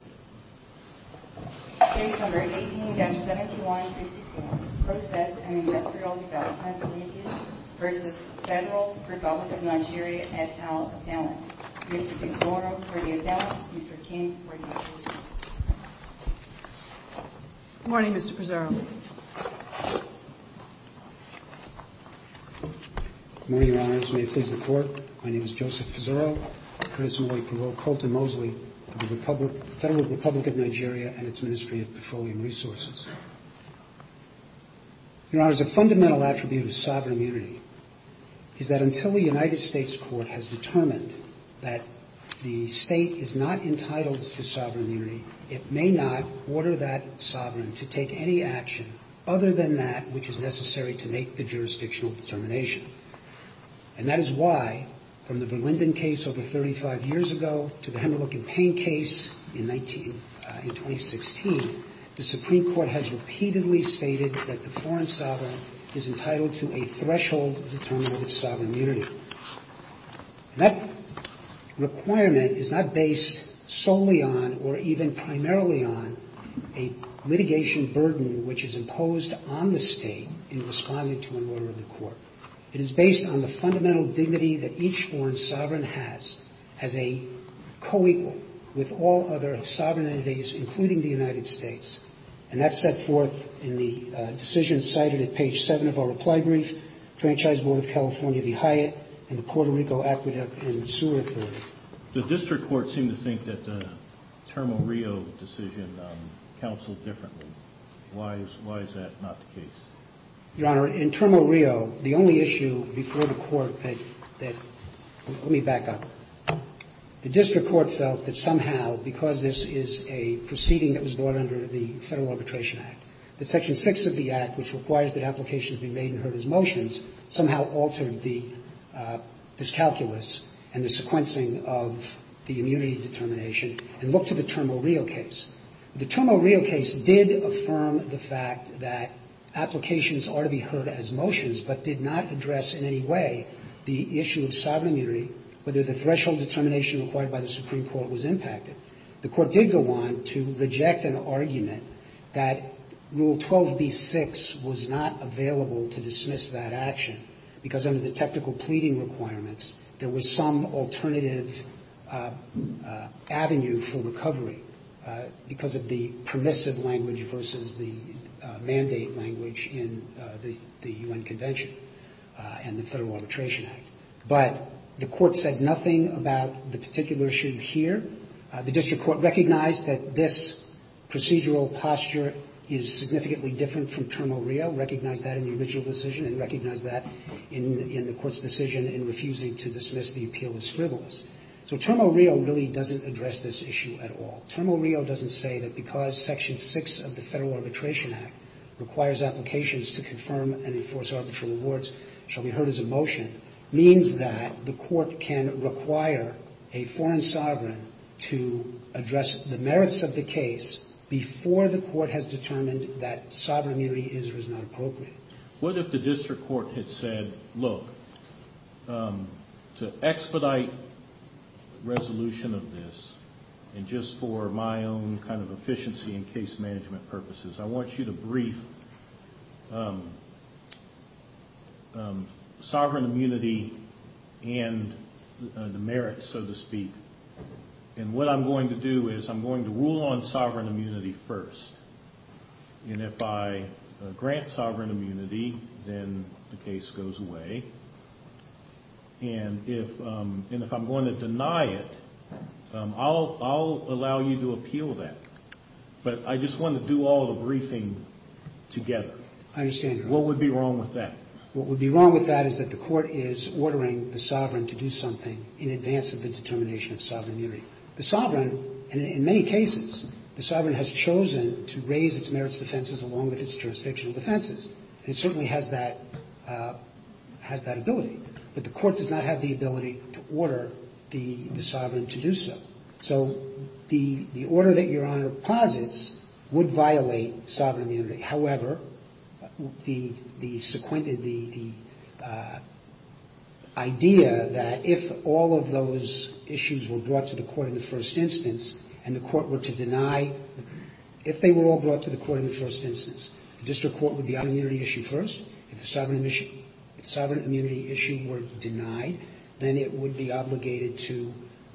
et al. Appellants. Mr. Pizzurro for the Appellants, Mr. King for the Appellants. Good morning, Mr. Pizzurro. Good morning, Your Honors. May it please the Court, my name is and its Ministry of Petroleum Resources. Your Honors, a fundamental attribute of sovereign unity is that until the United States Court has determined that the state is not entitled to sovereign unity, it may not order that sovereign to take any action other than that which is necessary to make the jurisdictional determination. And that is why, from the Verlinden case over 35 years ago to the Hemmerlich and Payne case in 2016, the Supreme Court has repeatedly stated that the foreign sovereign is entitled to a threshold determination of sovereign unity. That requirement is not based solely on or even primarily on a litigation burden which is imposed on the state in responding to an order of the Court. It is based on the as a co-equal with all other sovereignties, including the United States. And that's set forth in the decision cited at page 7 of our reply brief, Franchise Board of California v. Hyatt and the Puerto Rico Aqueduct and Sewer Authority. The District Court seemed to think that the Termo Rio decision counseled differently. Why is that not the case? Your Honor, in Termo Rio, the only issue before the Court that – let me back up. The District Court felt that somehow, because this is a proceeding that was brought under the Federal Arbitration Act, that Section 6 of the Act, which requires that applications be made and heard as motions, somehow altered the – this calculus and the sequencing of the immunity determination, and looked to the Termo Rio case. The Termo Rio case did affirm the fact that applications are to be heard as motions, but did not address in any way the issue of sovereign immunity, whether the threshold determination required by the Supreme Court was impacted. The Court did go on to reject an argument that Rule 12b-6 was not available to dismiss that action, because under the technical pleading requirements, there was some alternative avenue for recovery because of the permissive language versus the mandate language in the U.N. Convention and the Federal Arbitration Act. But the Court said nothing about the particular issue here. The District Court recognized that this procedural posture is significantly different from Termo Rio, recognized that in the original decision, and recognized that in the Court's decision in refusing to dismiss the appeal as frivolous. So Termo Rio really doesn't address this issue at all. Termo Rio doesn't say that because Section 6 of the Federal Arbitration Act requires applications to confirm and enforce arbitral rewards shall be heard as a motion, means that the Court can require a foreign sovereign to address the merits of the case before the Court has determined that sovereign immunity is or is not appropriate. What if the District Court had said, look, to expedite resolution of this, and just for my own kind of efficiency and case management purposes, I want you to brief sovereign immunity and the merits, so to speak. And what I'm going to do is I'm going to rule on sovereign immunity first. And if I grant sovereign immunity, then the case goes away. And if I'm going to deny it, I'll allow you to appeal that. But I just want to do all the briefing together. I understand, Your Honor. What would be wrong with that? What would be wrong with that is that the Court is ordering the sovereign to do something in advance of the determination of sovereign immunity. The sovereign in many cases, the sovereign has chosen to raise its merits defenses along with its jurisdictional defenses. And it certainly has that ability. But the Court does not have the ability to order the sovereign to do so. So the order that Your Honor posits would violate sovereign immunity. However, the idea that if all of those issues were brought to the Court in the first instance and the Court were to deny, if they were all brought to the Court in the first instance, the district court would be on immunity issue first. If the sovereign immunity issue were denied, then it would be obligated to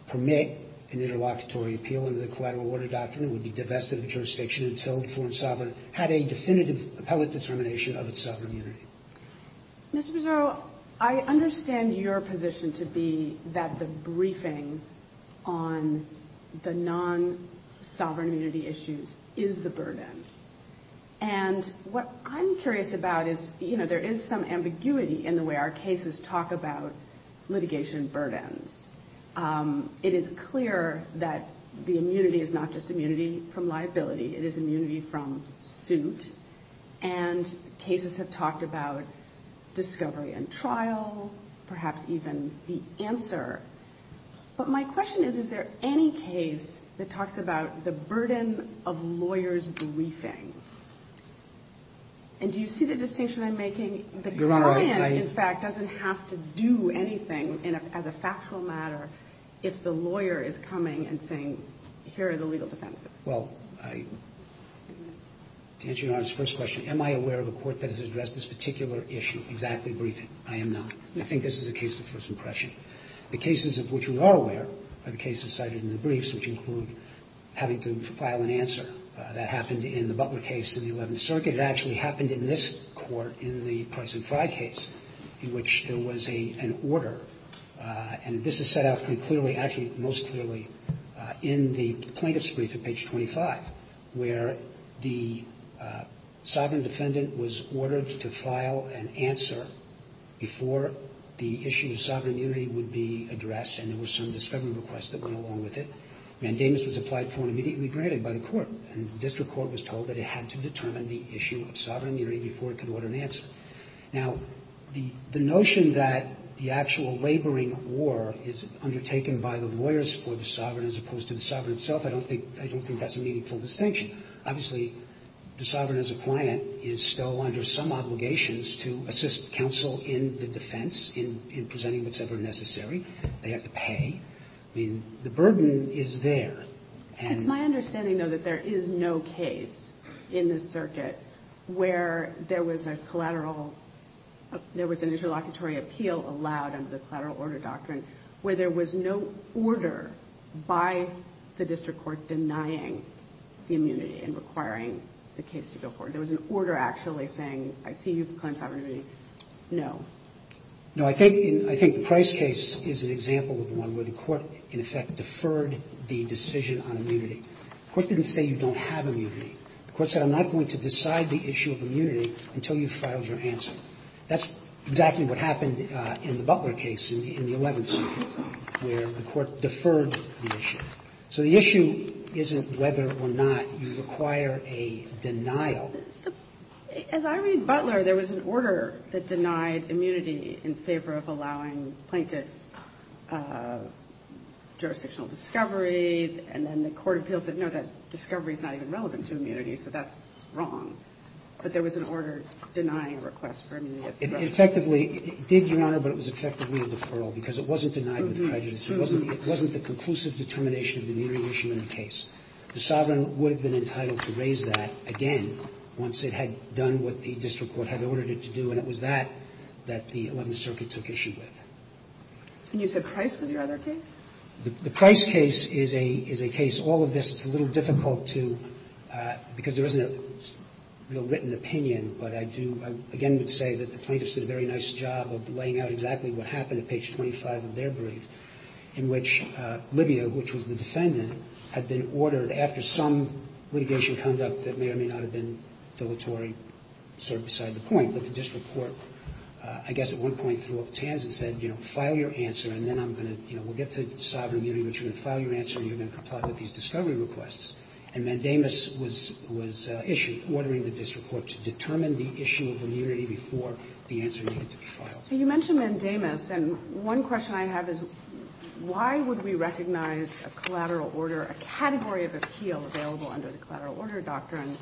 permit an interlocutory appeal under the collateral order doctrine. It would be divested of the jurisdiction itself for a sovereign, had a definitive appellate determination of its sovereign immunity. Mr. Pizzurro, I understand your position to be that the briefing on the non-sovereign immunity issues is the burden. And what I'm curious about is, you know, there is some ambiguity in the way our cases talk about litigation burdens. It is clear that the suit and cases have talked about discovery and trial, perhaps even the answer. But my question is, is there any case that talks about the burden of lawyers' briefing? And do you see the distinction I'm making? The client, in fact, doesn't have to do anything as a factual matter if the lawyer is coming and saying, here are the legal defenses. Well, to answer Your Honor's first question, am I aware of a court that has addressed this particular issue, exactly briefing? I am not. I think this is a case of first impression. The cases of which we are aware are the cases cited in the briefs, which include having to file an answer. That happened in the Butler case in the Eleventh Circuit. It actually happened in this court in the Price and Fry case, in which there was an order. And this is set out pretty clearly, actually most clearly in the plaintiff's brief at page 25, where the sovereign defendant was ordered to file an answer before the issue of sovereign immunity would be addressed and there were some discovery requests that went along with it. Mandamus was applied for and immediately granted by the court. And the district court was told that it had to determine the issue of sovereign immunity before it could order an answer. Now, the notion that the actual laboring war is undertaken by the lawyers for the sovereign as opposed to the sovereign itself, I don't think that's a meaningful distinction. Obviously, the sovereign as a client is still under some obligations to assist counsel in the defense in presenting what's ever necessary. They have to pay. I mean, the burden is there. It's my understanding, though, that there is no case in this circuit where there was a collateral – there was an interlocutory appeal allowed under the collateral order doctrine where there was no order by the district court denying the immunity and requiring the case to go forward. There was an order actually saying, I see you claim sovereign immunity. No. No. I think the Price case is an example of one where the court, in effect, deferred the decision on immunity. The court didn't say you don't have immunity. The court said I'm not going to decide the issue of immunity until you've filed your answer. That's exactly what happened in the Butler case in the 11th where the court deferred the issue. So the issue isn't whether or not you require a denial. As I read Butler, there was an order that denied immunity in favor of allowing plaintiff jurisdictional discovery, and then the court appeals it. No, that discovery is not even relevant to immunity, so that's wrong. But there was an order denying a request for immunity. It effectively did, Your Honor, but it was effectively a deferral because it wasn't denied with prejudice. It wasn't the conclusive determination of the immunity issue in the case. The sovereign would have been entitled to raise that again once it had done what the district court had ordered it to do, and it was that that the Eleventh Circuit took issue with. And you said Price was your other case? The Price case is a case. All of this is a little difficult to – because there isn't a real written opinion, but I do – I again would say that the plaintiffs did a very nice job of laying out exactly what happened at page 25 of their brief in which Libya, which was the defendant, had been ordered after some litigation conduct that may or may not have been dilatory sort of beside the point. But the district court, I guess at one point, threw up tans and said, you know, file your answer and then I'm going to, you know, we'll get to sovereign immunity, but you're going to file your answer and you're going to comply with these discovery requests. And Mandamus was issued, ordering the district court to determine the issue of immunity before the answer needed to be filed. So you mentioned Mandamus, and one question I have is why would we recognize a collateral order, a category of appeal available under the collateral order doctrine,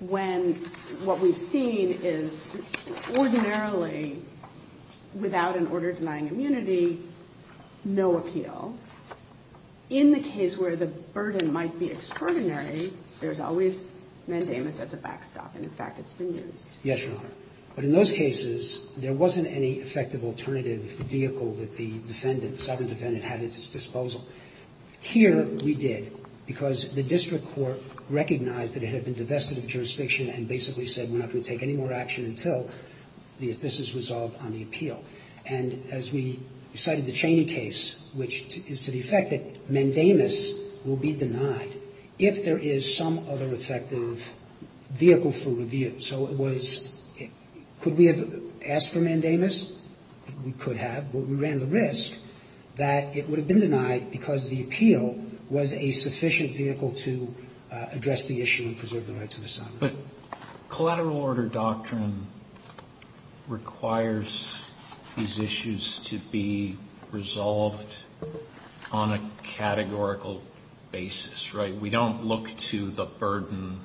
when what we've seen is ordinarily without an order denying immunity no appeal. In the case where the burden might be extraordinary, there's always Mandamus as a backstop, and in fact, it's been used. Yes, Your Honor. But in those cases, there wasn't any effective alternative vehicle that the defendant, the sovereign defendant, had at its disposal. Here we did, because the district court recognized that it had been divested of jurisdiction and basically said we're not going to take any more action until this is resolved on the appeal. And as we cited the Cheney case, which is to the effect that Mandamus will be denied if there is some other effective vehicle for review. So it was, could we have asked for Mandamus? We could have, but we ran the risk that it would have been denied because the appeal was a sufficient vehicle to address the issue and preserve the rights of the sovereign. But collateral order doctrine requires these issues to be resolved on a categorical basis, right? We don't look to the burden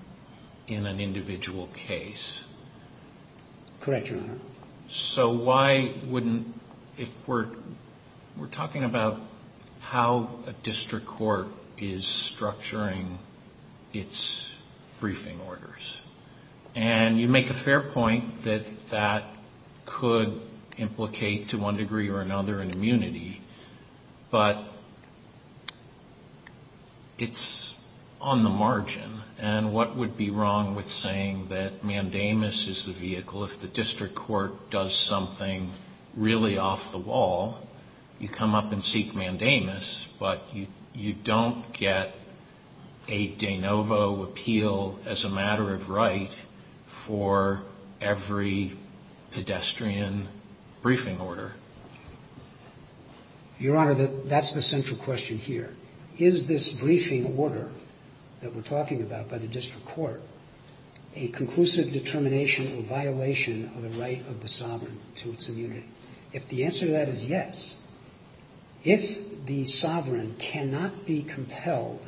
in an individual case. Correct, Your Honor. So why wouldn't, if we're talking about how a district court is structuring its briefing orders, and you make a fair point that that could implicate to one degree or another an immunity, but it's on the margin, and what would be wrong with saying that Mandamus is the vehicle, if the district court does something really off the wall, you come up and seek Mandamus, but you don't get a de novo appeal as a matter of right for every pedestrian briefing order? Your Honor, that's the central question here. Is this briefing order that we're talking about a conclusive determination or violation of the right of the sovereign to its immunity? If the answer to that is yes, if the sovereign cannot be compelled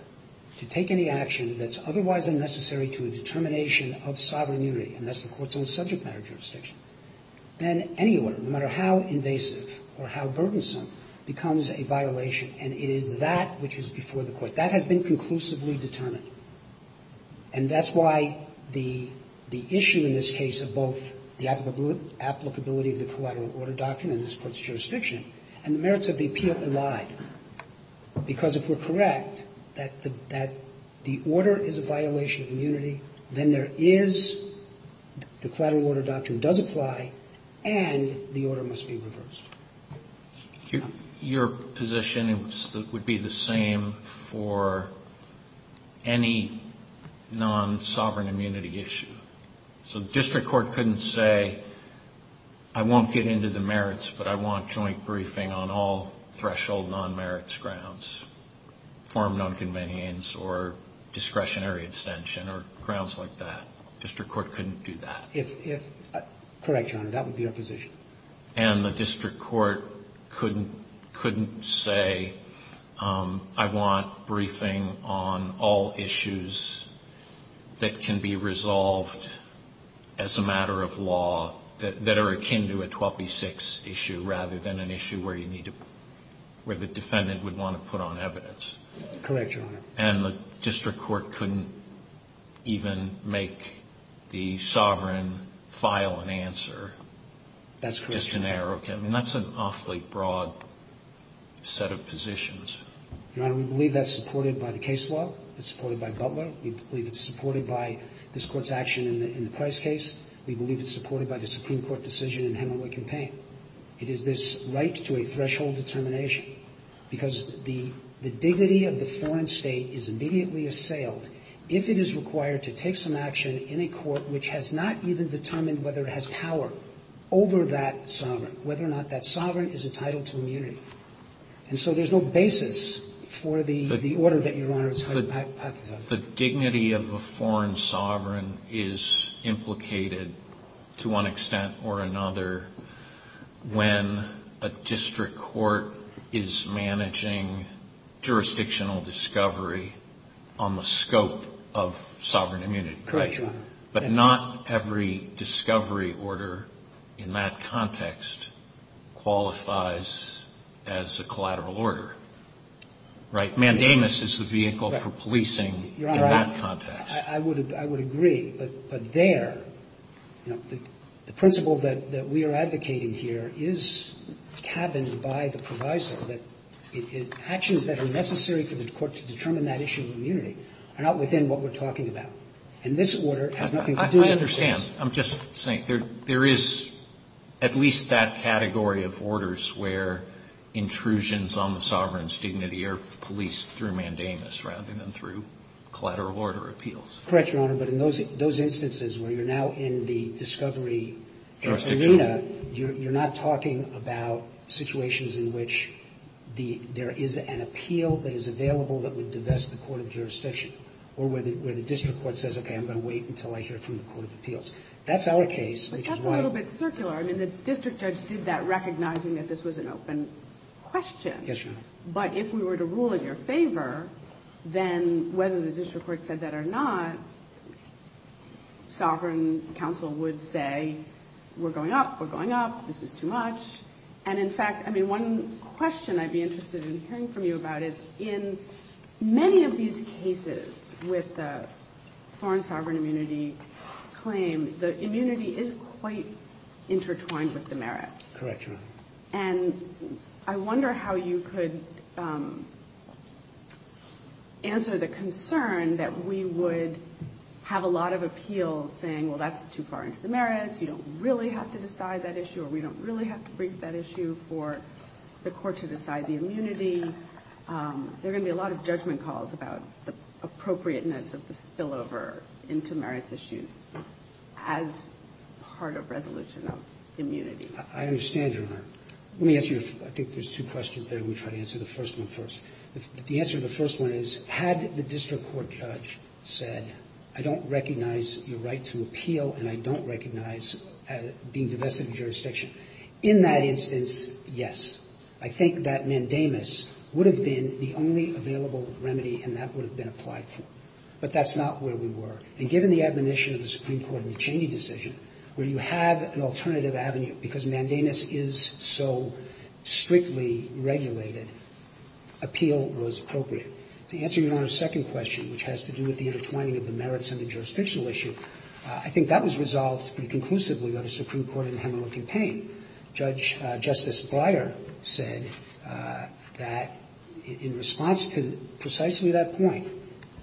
to take any action that's otherwise unnecessary to a determination of sovereign immunity, and that's the court's own subject matter jurisdiction, then any order, no matter how invasive or how burdensome, becomes a violation. And it is that which is before the court. That has been conclusively determined. And that's why the issue in this case of both the applicability of the collateral order doctrine in this Court's jurisdiction and the merits of the appeal allied. Because if we're correct that the order is a violation of immunity, then there is the collateral order doctrine does apply, and the order must be reversed. Your position is that it would be the same for any non-sovereign immunity issue? So the district court couldn't say, I won't get into the merits, but I want joint briefing on all threshold non-merits grounds, form nonconvenience or discretionary abstention or grounds like that? District court couldn't do that? Correct, Your Honor. That would be our position. And the district court couldn't say, I want briefing on all issues that can be resolved as a matter of law that are akin to a 12B6 issue, rather than an issue where the defendant would want to put on evidence? Correct, Your Honor. And the district court couldn't even make the sovereign file an answer? That's correct, Your Honor. Just generic. And that's an awfully broad set of positions. Your Honor, we believe that's supported by the case law. It's supported by Butler. We believe it's supported by this Court's action in the Price case. We believe it's supported by the Supreme Court decision in Hemingway campaign. It is this right to a threshold determination, because the dignity of the foreign state is immediately assailed if it is required to take some action in a court which has not even determined whether it has power over that sovereign, whether or not that sovereign is entitled to immunity. And so there's no basis for the order that Your Honor is highlighting. The dignity of a foreign sovereign is implicated, to one extent or another, when a district court is managing jurisdictional discovery on the scope of sovereign immunity, right? Correct, Your Honor. But not every discovery order in that context qualifies as a collateral order, right? Mandamus is the vehicle for policing in that context. Your Honor, I would agree. But there, you know, the principle that we are advocating here is cabined by the proviso that actions that are necessary for the court to determine that issue of immunity are not within what we're talking about. And this order has nothing to do with that. I understand. I'm just saying there is at least that category of orders where intrusions on the sovereign's dignity are policed through Mandamus rather than through collateral order appeals. Correct, Your Honor. But in those instances where you're now in the discovery jurisdiction. Your Honor, you're not talking about situations in which there is an appeal that is available that would divest the court of jurisdiction, or where the district court says, okay, I'm going to wait until I hear from the court of appeals. That's our case, which is why. But that's a little bit circular. I mean, the district judge did that recognizing that this was an open question. Yes, Your Honor. But if we were to rule in your favor, then whether the district court said that or not, sovereign counsel would say, we're going up, we're going up, this is too much. And in fact, I mean, one question I'd be interested in hearing from you about is, in many of these cases with the foreign sovereign immunity claim, the immunity is quite intertwined with the merits. Correct, Your Honor. And I wonder how you could answer the concern that we would have a lot of immunity appeals saying, well, that's too far into the merits, you don't really have to decide that issue, or we don't really have to brief that issue for the court to decide the immunity. There are going to be a lot of judgment calls about the appropriateness of the spillover into merits issues as part of resolution of immunity. I understand, Your Honor. Let me ask you, I think there's two questions there, and we'll try to answer the first one first. The answer to the first one is, had the district court judge said, I don't recognize your right to appeal, and I don't recognize being divested of jurisdiction. In that instance, yes. I think that mandamus would have been the only available remedy, and that would have been applied for. But that's not where we were. And given the admonition of the Supreme Court in the Cheney decision, where you have an alternative avenue, because mandamus is so strictly regulated, appeal was appropriate. To answer Your Honor's second question, which has to do with the intertwining of the merits and the jurisdictional issue, I think that was resolved pretty conclusively by the Supreme Court in the Hemingway campaign. Judge Justice Breyer said that in response to precisely that point,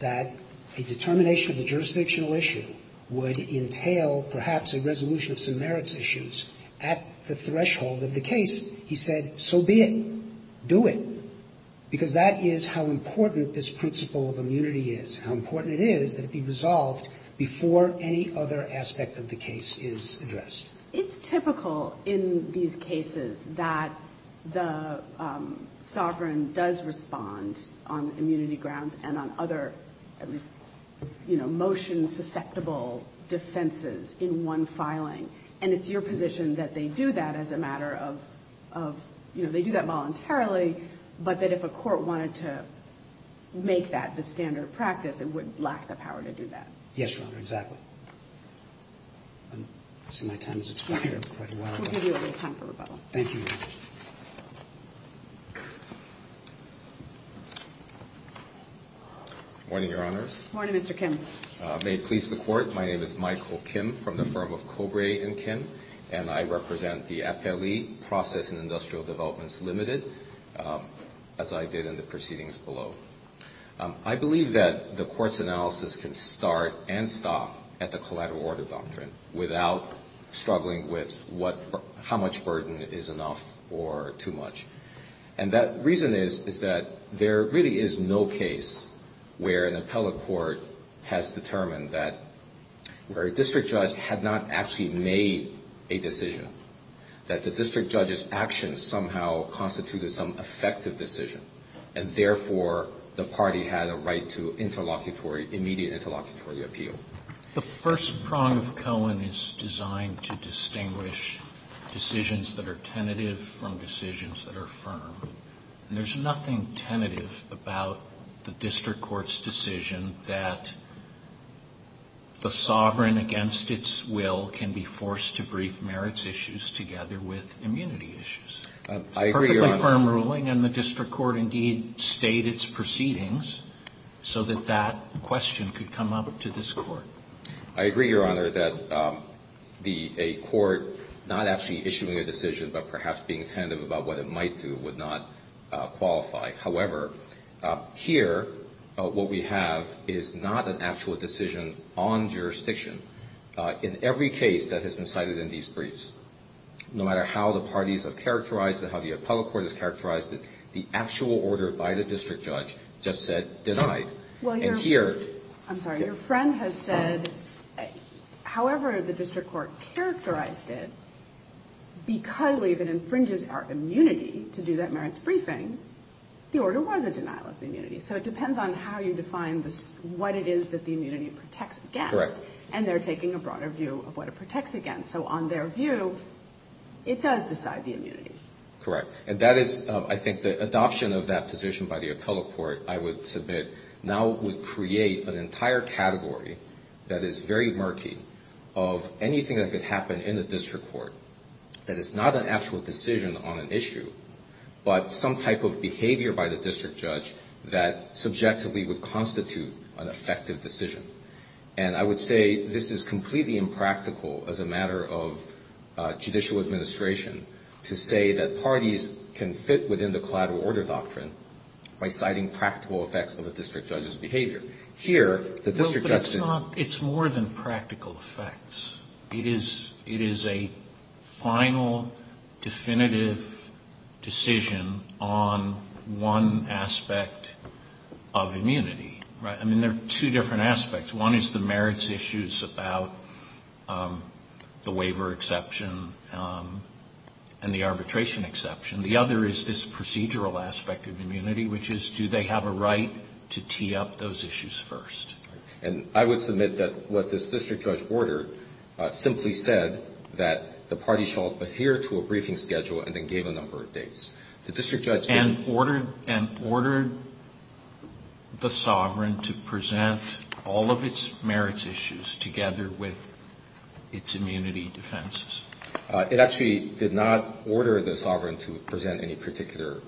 that a determination of the jurisdictional issue would entail, perhaps, a resolution of some merits issues at the threshold of the case. He said, so be it. Do it. Because that is how important this principle of immunity is, how important it is that it be resolved before any other aspect of the case is addressed. It's typical in these cases that the sovereign does respond on immunity grounds and on other, at least, you know, motion-susceptible defenses in one filing. And it's your position that they do that as a matter of, you know, they do that voluntarily, but that if a court wanted to make that the standard practice, it would lack the power to do that. Yes, Your Honor, exactly. I see my time has expired. We'll give you a little time for rebuttal. Thank you. Morning, Your Honors. Morning, Mr. Kim. May it please the Court, my name is Michael Kim from the firm of Kobre & Kim, and I represent the appellee, Process and Industrial Developments Limited, as I did in the proceedings below. I believe that the Court's analysis can start and stop at the collateral order doctrine without struggling with what, how much burden is enough or too much. And that reason is, is that there really is no case where an appellate court has a decision, has determined that where a district judge had not actually made a decision, that the district judge's actions somehow constituted some effective decision, and therefore, the party had a right to interlocutory, immediate interlocutory appeal. The first prong of Cohen is designed to distinguish decisions that are tentative from decisions that are firm. And there's nothing tentative about the district court's decision that the sovereign against its will can be forced to brief merits issues together with immunity issues. I agree, Your Honor. It's a perfectly firm ruling, and the district court indeed stayed its proceedings so that that question could come up to this Court. I agree, Your Honor, that a court not actually issuing a decision, but perhaps being tentative about what it might do, would not be an effective decision. What we have is not an actual decision on jurisdiction. In every case that has been cited in these briefs, no matter how the parties have characterized it, how the appellate court has characterized it, the actual order by the district judge just said, denied. And here... I'm sorry. Your friend has said, however the district court characterized it, because leave it infringes our immunity to do that merits briefing, the order was a denial of the immunity. So it depends on how you define what it is that the immunity protects against, and they're taking a broader view of what it protects against. So on their view, it does decide the immunity. Correct. And that is, I think, the adoption of that position by the appellate court, I would submit, now would create an entire category that is very murky of anything that could happen in the district court that is not an actual decision on an issue, but some type of behavior by the district judge that subjectively would constitute an effective decision. And I would say this is completely impractical as a matter of judicial administration to say that parties can fit within the collateral order doctrine by citing practical effects of a district judge's behavior. Here, the district judge... It's more than practical effects. It is a final, definitive decision on one aspect of immunity. I mean, there are two different aspects. One is the merits issues about the waiver exception and the arbitration exception. The other is this procedural aspect of immunity, which is do they have a right to tee up those issues first. And I would submit that what this district judge ordered simply said that the party shall adhere to a briefing schedule and then gave a number of dates. The district judge... And ordered the sovereign to present all of its merits issues together with its immunity defenses. It actually did not order the sovereign to present any particular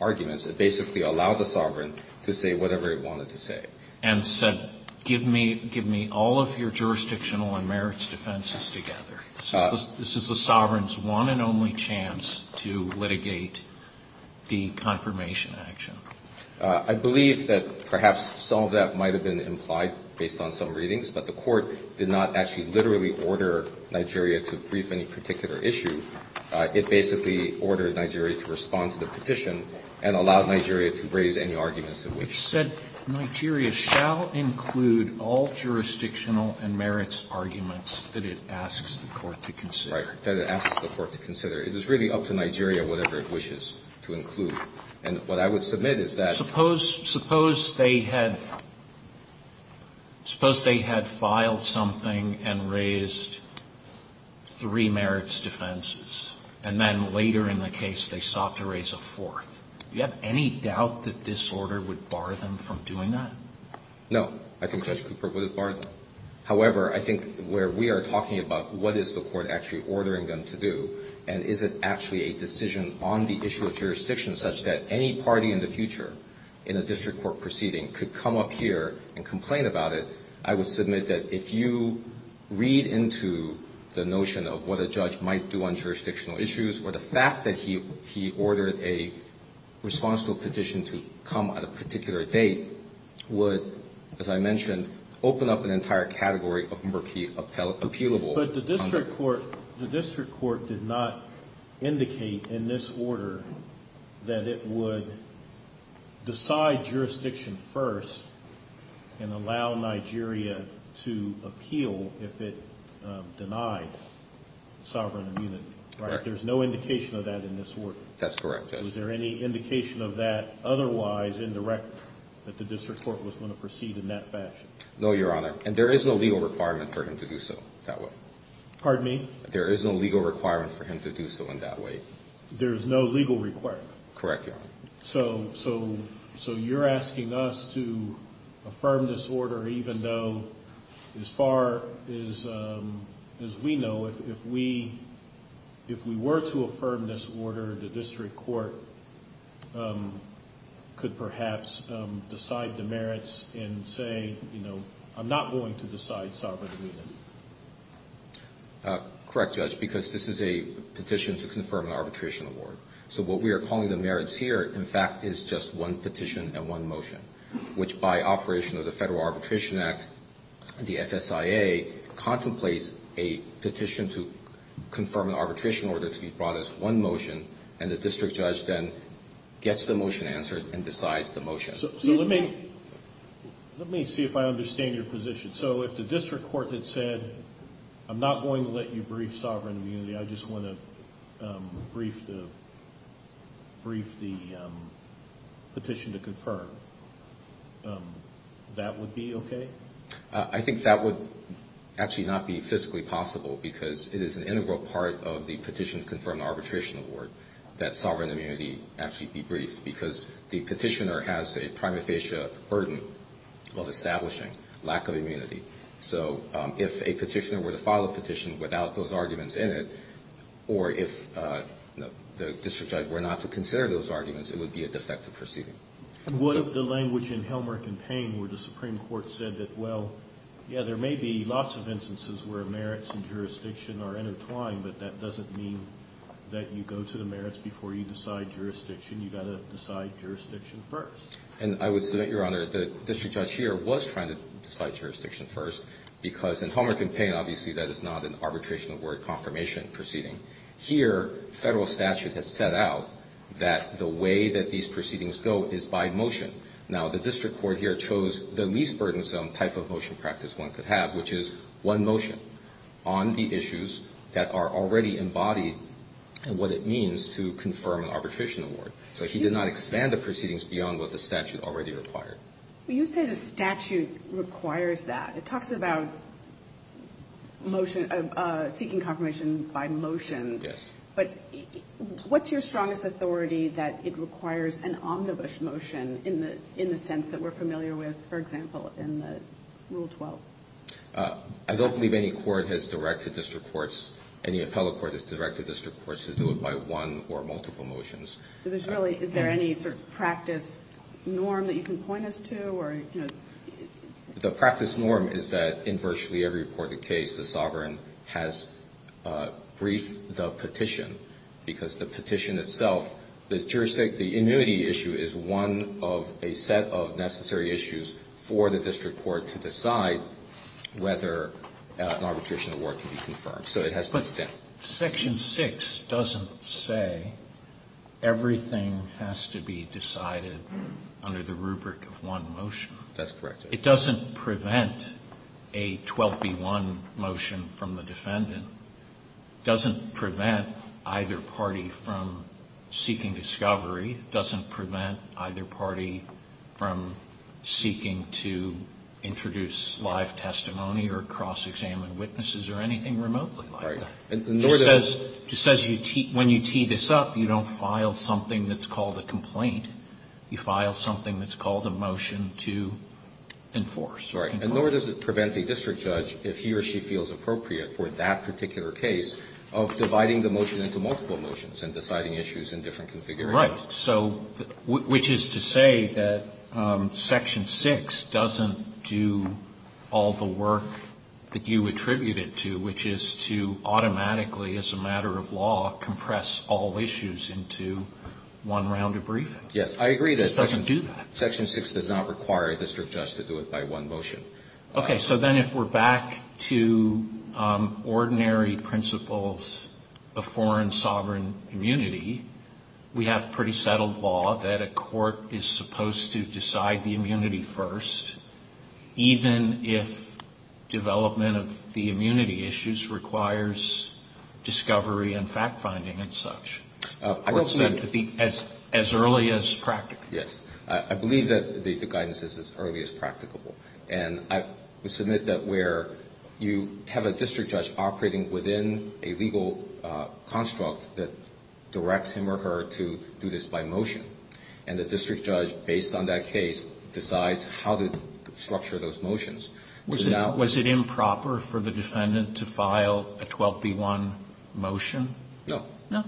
arguments. It basically allowed the sovereign to say whatever it wanted to say. And said, give me all of your jurisdictional and merits defenses together. This is the sovereign's one and only chance to litigate the confirmation action. I believe that perhaps some of that might have been implied based on some readings, but the court did not actually literally order Nigeria to brief any particular issue. It basically ordered Nigeria to respond to the petition and allowed Nigeria to raise any arguments in which... It said Nigeria shall include all jurisdictional and merits arguments that it asks the court to consider. Right. That it asks the court to consider. It is really up to Nigeria, whatever it wishes to include. And what I would submit is that... Suppose they had filed something and raised three merits defenses, and then later in the case they sought to raise a fourth. Do you have any doubt that this order would bar them from doing that? No. I think Judge Cooper would have barred them. However, I think where we are talking about what is the court actually ordering them to do, and is it actually a decision on the issue of jurisdiction such that any party in the future in a district court proceeding could come up here and complain about it, I would submit that if you read into the notion of what a judge might do on jurisdictional issues or the fact that he ordered a response to a petition to come at a particular date would, as I mentioned, open up an entire category of appealable... But the district court did not indicate in this order that it would decide jurisdiction first and allow Nigeria to appeal if it denied sovereign immunity, right? Correct. There's no indication of that in this order? That's correct, Judge. Was there any indication of that otherwise in the record that the district court was going to proceed in that fashion? No, Your Honor. And there is no legal requirement for him to do so that way. Pardon me? There is no legal requirement for him to do so in that way. There is no legal requirement? Correct, Your Honor. So you're asking us to affirm this order even though, as far as we know, if we were to affirm this order, the district court could perhaps decide the merits and say, you know, I'm not going to decide sovereign immunity. Correct, Judge, because this is a petition to confirm an arbitration award. So what we are calling the merits here, in fact, is just one petition and one motion, which by operation of the Federal Arbitration Act, the FSIA contemplates a petition to confirm an arbitration order to be brought as one motion, and the district judge then gets the motion answered and decides the motion. So let me see if I understand your position. So if the district court had said, I'm not going to let you brief sovereign immunity, I just want to brief the petition to confirm, that would be okay? I think that would actually not be fiscally possible because it is an integral part of the petition to confirm an arbitration award that sovereign immunity actually be briefed because the petitioner has a prima facie burden of establishing lack of immunity. So if a petitioner were to file a petition without those arguments in it, or if the district judge were not to consider those arguments, it would be a defective proceeding. And what if the language in Helmholtz and Payne where the Supreme Court said that, well, yeah, there may be lots of instances where merits and jurisdiction are intertwined, but that doesn't mean that you go to the merits before you decide jurisdiction. You've got to decide jurisdiction first. And I would submit, Your Honor, the district judge here was trying to decide jurisdiction first because in Helmholtz and Payne, obviously, that is not an arbitration award confirmation proceeding. Here, Federal statute has set out that the way that these proceedings go is by motion. Now, the district court here chose the least burdensome type of motion practice one could have, which is one motion on the issues that are already embodied and what it means to confirm an arbitration award. So he did not expand the proceedings beyond what the statute already required. But you say the statute requires that. It talks about motion of seeking confirmation by motion. Yes. But what's your strongest authority that it requires an omnibus motion in the sense that we're familiar with, for example, in Rule 12? I don't believe any court has directed district courts, any appellate court has directed district courts to do it by one or multiple motions. So there's really any sort of practice norm that you can point us to or, you know? The practice norm is that in virtually every reported case, the sovereign has briefed the petition because the petition itself, the jurisdiction, the immunity issue is one of a set of necessary issues for the district court to decide whether an arbitration award can be confirmed. So it has been set. Section 6 doesn't say everything has to be decided under the rubric of one motion. That's correct. It doesn't prevent a 12B1 motion from the defendant. It doesn't prevent either party from seeking discovery. It doesn't prevent either party from seeking to introduce live testimony or cross-examine witnesses or anything remotely like that. Right. And nor does it prevent a district judge, if he or she feels appropriate for that particular case, of dividing the motion into multiple motions and deciding issues in different configurations. Right. So which is to say that Section 6 doesn't do all the work that you attribute it to, which is to automatically, as a matter of law, compress all issues into one round of briefing. Yes. I agree that Section 6 does not require a district judge to do it by one motion. Okay. So then if we're back to ordinary principles of foreign sovereign immunity, we have pretty settled law that a court is supposed to decide the immunity first, even if development of the immunity issues requires discovery and fact-finding and such. As early as practical. Yes. I believe that the guidance is as early as practicable. And I would submit that where you have a district judge operating within a legal construct that directs him or her to do this by motion, and the district judge, based on that case, decides how to structure those motions. Was it improper for the defendant to file a 12b-1 motion? No. No.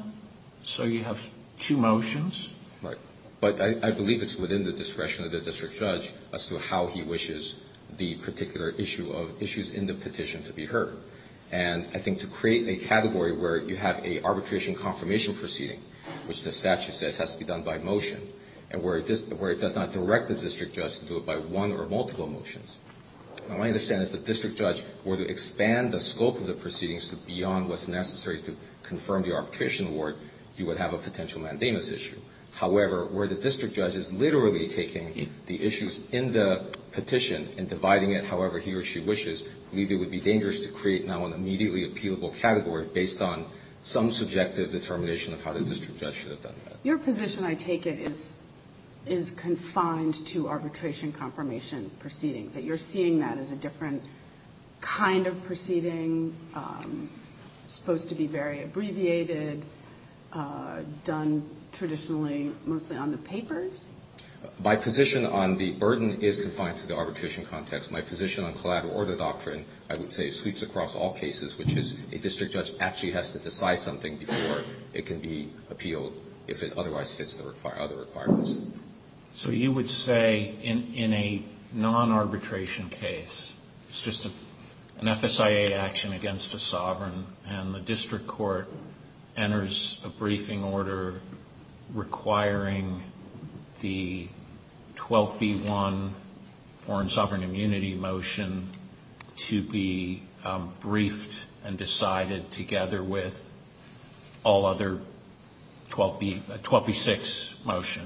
So you have two motions? Right. But I believe it's within the discretion of the district judge as to how he wishes the particular issue of issues in the petition to be heard. And I think to create a category where you have an arbitration confirmation proceeding, which the statute says has to be done by motion, and where it does not direct the district judge to do it by one or multiple motions. Now, I understand if the district judge were to expand the scope of the proceedings to beyond what's necessary to confirm the arbitration award, you would have a potential mandamus issue. However, where the district judge is literally taking the issues in the petition and dividing it however he or she wishes, I believe it would be dangerous to create now an immediately appealable category based on some subjective determination of how the district judge should have done that. Your position, I take it, is confined to arbitration confirmation proceedings, that you're seeing that as a different kind of proceeding, supposed to be very abbreviated, done traditionally mostly on the papers? My position on the burden is confined to the arbitration context. My position on collateral order doctrine, I would say, sweeps across all cases, which is a district judge actually has to decide something before it can be appealed if it otherwise fits the other requirements. So you would say in a non-arbitration case, it's just an FSIA action against a sovereign, and the district court enters a briefing order requiring the 12B1 Foreign Sovereign 12B6 motion,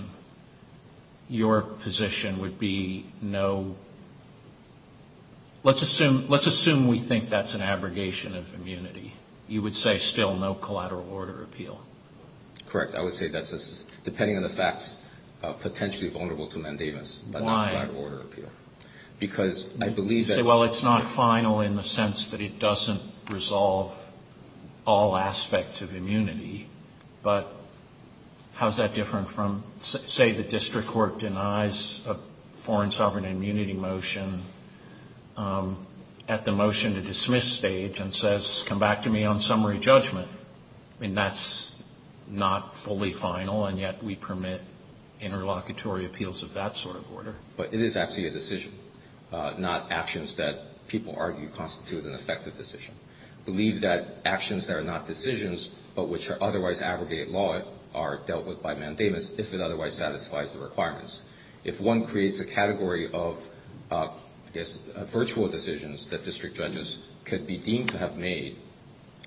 your position would be no, let's assume we think that's an abrogation of immunity. You would say still no collateral order appeal? Correct. I would say that's, depending on the facts, potentially vulnerable to mandamus, but not collateral order appeal. Why? Because I believe that... How's that different from, say the district court denies a foreign sovereign immunity motion at the motion to dismiss stage and says, come back to me on summary judgment. I mean, that's not fully final, and yet we permit interlocutory appeals of that sort of order. But it is actually a decision, not actions that people argue constitute an effective decision. I believe that actions that are not decisions, but which are otherwise aggregated law, are dealt with by mandamus if it otherwise satisfies the requirements. If one creates a category of, I guess, virtual decisions that district judges could be deemed to have made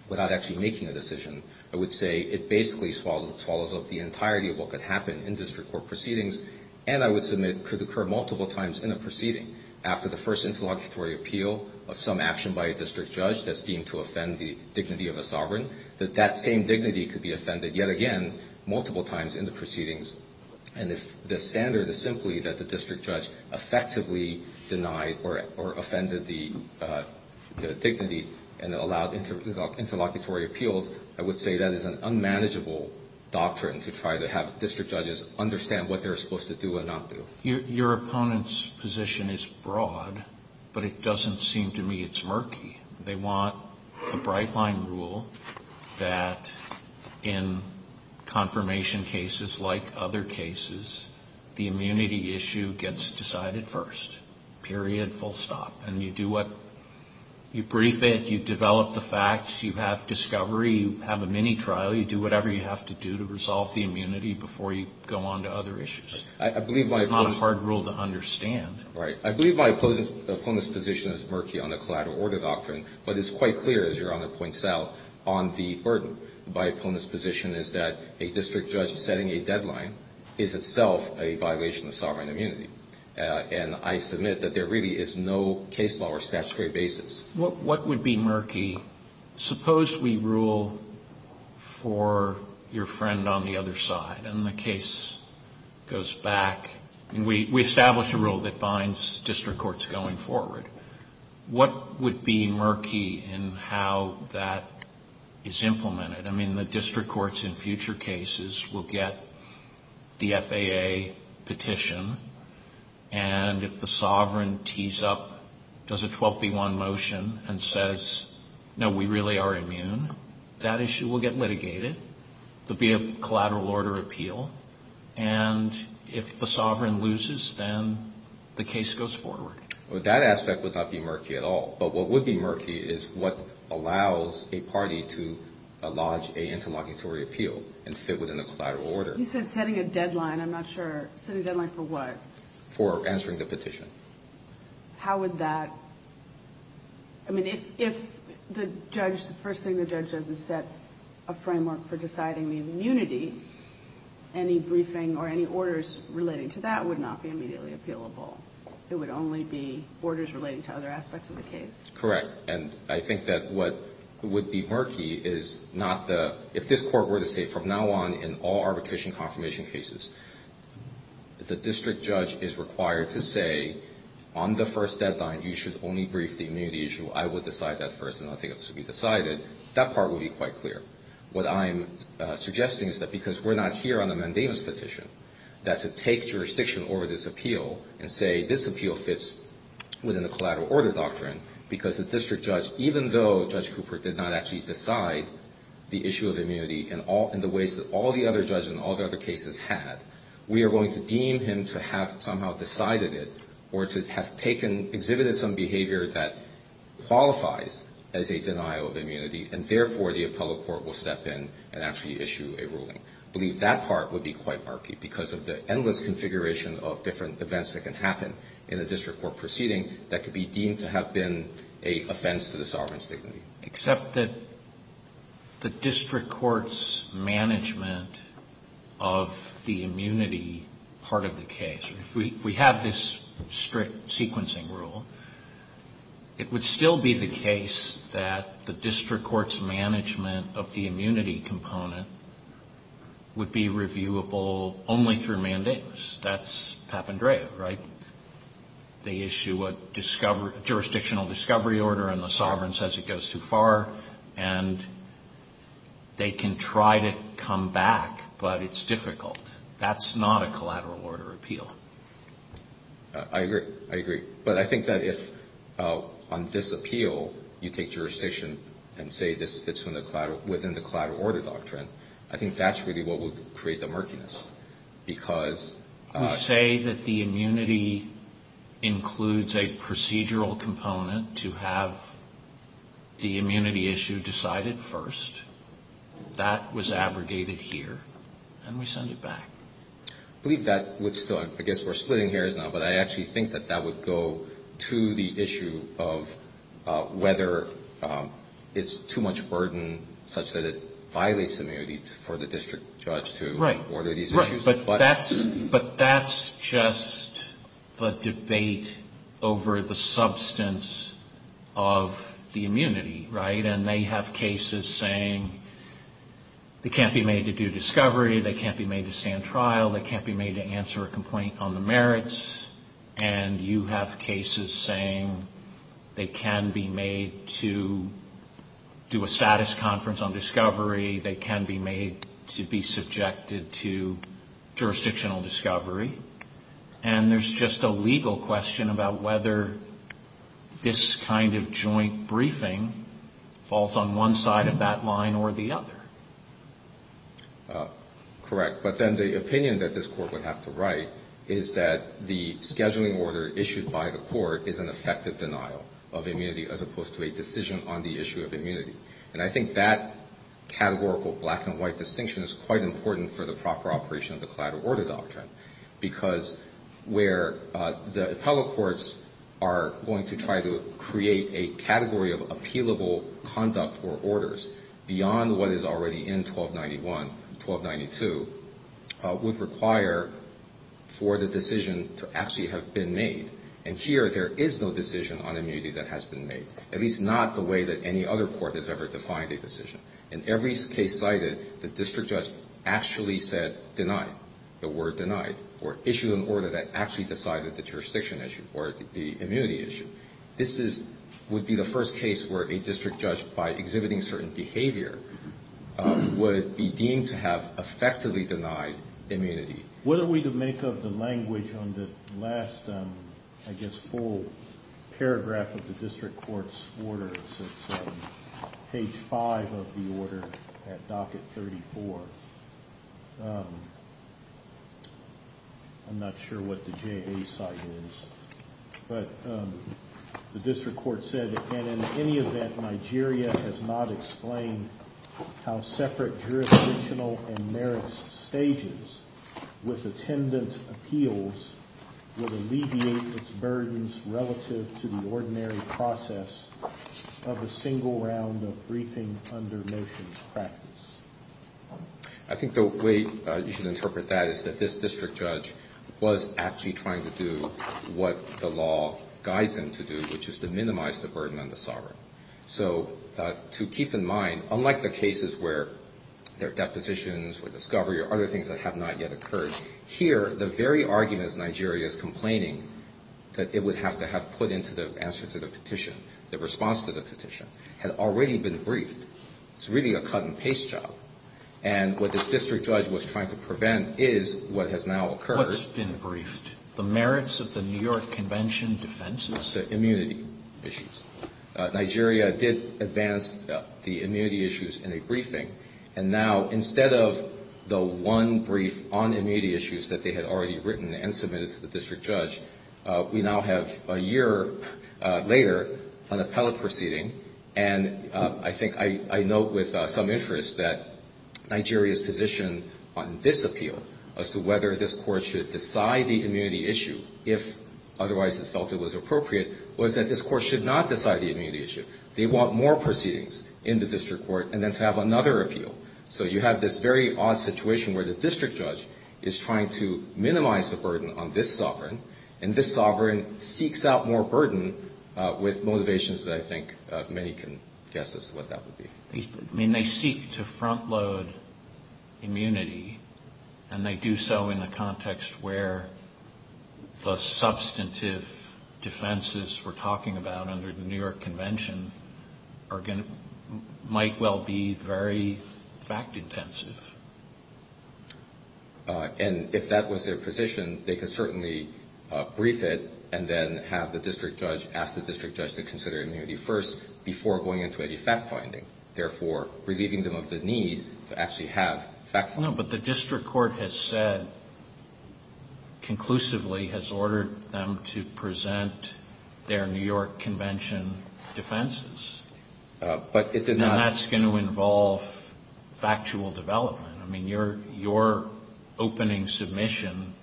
without actually making a decision, I would say it basically swallows up the entirety of what could happen in district court proceedings, and I would submit could occur multiple times in a proceeding. After the first interlocutory appeal of some action by a district judge that's deemed to offend the dignity of a sovereign, that that same dignity could be offended yet again multiple times in the proceedings. And if the standard is simply that the district judge effectively denied or offended the dignity and allowed interlocutory appeals, I would say that is an unmanageable doctrine to try to have district judges understand what they're supposed to do and not do. Your opponent's position is broad, but it doesn't seem to me it's murky. They want a bright-line rule that in confirmation cases like other cases, the immunity issue gets decided first, period, full stop. And you do what you brief it, you develop the facts, you have discovery, you have a mini-trial, you do whatever you have to do to resolve the immunity before you go on to other issues. It's not a hard rule to understand. Right. I believe my opponent's position is murky on the collateral order doctrine, but it's quite clear, as Your Honor points out, on the burden. My opponent's position is that a district judge setting a deadline is itself a violation of sovereign immunity. And I submit that there really is no case law or statutory basis. What would be murky? Suppose we rule for your friend on the other side and the case goes back, and we establish a rule that binds district courts going forward. What would be murky in how that is implemented? I mean, the district courts in future cases will get the FAA petition, and if the sovereign tees up, does a 12B1 motion and says, no, we really are immune, that issue will get litigated. There will be a collateral order appeal. And if the sovereign loses, then the case goes forward. Well, that aspect would not be murky at all. But what would be murky is what allows a party to lodge an interlocutory appeal and fit within a collateral order. You said setting a deadline. I'm not sure. Setting a deadline for what? For answering the petition. How would that? I mean, if the judge, the first thing the judge does is set a framework for deciding the immunity, any briefing or any orders relating to that would not be immediately appealable. It would only be orders relating to other aspects of the case. Correct. And I think that what would be murky is not the, if this court were to say from now on in all arbitration confirmation cases, the district judge is required to say, on the first deadline, you should only brief the immunity issue. I will decide that first, and I think it should be decided. That part would be quite clear. What I'm suggesting is that because we're not here on a mandamus petition, that to take jurisdiction over this appeal and say this appeal fits within a collateral order doctrine, because the district judge, even though Judge Cooper did not actually decide the issue of immunity in the ways that all the other judges in all the other cases had, we are going to deem him to have somehow decided it or to have taken, exhibited some behavior that qualifies as a denial of immunity, and therefore the appellate court will step in and actually issue a ruling. I believe that part would be quite murky because of the endless configuration of different events that can happen in a district court proceeding that could be deemed to have been an offense to the sovereign's dignity. Except that the district court's management of the immunity part of the case, if we have this strict sequencing rule, it would still be the case that the district court's management of the immunity component would be reviewable only through mandamus. That's Papandrea, right? They issue a jurisdictional discovery order and the sovereign says it goes too far, and they can try to come back, but it's difficult. That's not a collateral order appeal. I agree. I agree. But I think that if on this appeal you take jurisdiction and say this fits within the collateral order doctrine, I think that's really what would create the murkiness because We say that the immunity includes a procedural component to have the immunity issue decided first. That was abrogated here, and we send it back. I believe that would still, I guess we're splitting hairs now, but I actually think that that would go to the issue of whether it's too much burden such that it violates immunity for the district judge to order these issues. But that's just the debate over the substance of the immunity, right? And they have cases saying they can't be made to do discovery, they can't be made to stand trial, they can't be made to answer a complaint on the merits, and you have cases saying they can be made to do a status conference on discovery, they can be made to be subjected to jurisdictional discovery, and there's just a legal question about whether this kind of joint briefing falls on one side of that line or the other. Correct. But then the opinion that this Court would have to write is that the scheduling order issued by the Court is an effective denial of immunity as opposed to a decision on the issue of immunity. And I think that categorical black-and-white distinction is quite important for the proper operation of the collateral order doctrine because where the appellate courts are going to try to create a category of appealable conduct or orders beyond what is already in 1291, 1292, would require for the decision to actually have been made. And here there is no decision on immunity that has been made, at least not the way that any other court has ever defined a decision. In every case cited, the district judge actually said denied, the word denied, or issued an order that actually decided the jurisdiction issue or the immunity issue. This would be the first case where a district judge, by exhibiting certain behavior, would be deemed to have effectively denied immunity. What are we to make of the language on the last, I guess, full paragraph of the district court's order, page 5 of the order at docket 34? I'm not sure what the JA side is, but the district court said, and in any event Nigeria has not explained how separate jurisdictional and merits stages with attendant appeals would alleviate its burdens relative to the ordinary process of a single round of briefing under motions practice. I think the way you should interpret that is that this district judge was actually trying to do what the law guides him to do, which is to minimize the burden on the sovereign. So to keep in mind, unlike the cases where there are depositions or discovery or other things that have not yet occurred, here the very arguments Nigeria is complaining that it would have to have put into the answer to the petition, the response to the petition, had already been briefed. It's really a cut-and-paste job. And what this district judge was trying to prevent is what has now occurred. What's been briefed? The merits of the New York Convention defenses? The immunity issues. Nigeria did advance the immunity issues in a briefing, and now instead of the one brief on immunity issues that they had already written and submitted to the district judge, we now have a year later an appellate proceeding. And I think I note with some interest that Nigeria's position on this appeal as to whether this court should decide the immunity issue, if otherwise it felt it was appropriate, was that this court should not decide the immunity issue. They want more proceedings in the district court and then to have another appeal. So you have this very odd situation where the district judge is trying to minimize the burden on this sovereign, and this sovereign seeks out more burden with motivations that I think many can guess as to what that would be. I mean, they seek to front-load immunity, and they do so in the context where the substantive defenses we're talking about under the New York Convention might well be very fact-intensive. And if that was their position, they could certainly brief it and then have the district judge ask the district judge to consider immunity first before going into any fact-finding, therefore relieving them of the need to actually have fact-finding. No, but the district court has said conclusively has ordered them to present their New York Convention defenses. But it did not. And that's going to involve factual development. I mean, your opening submission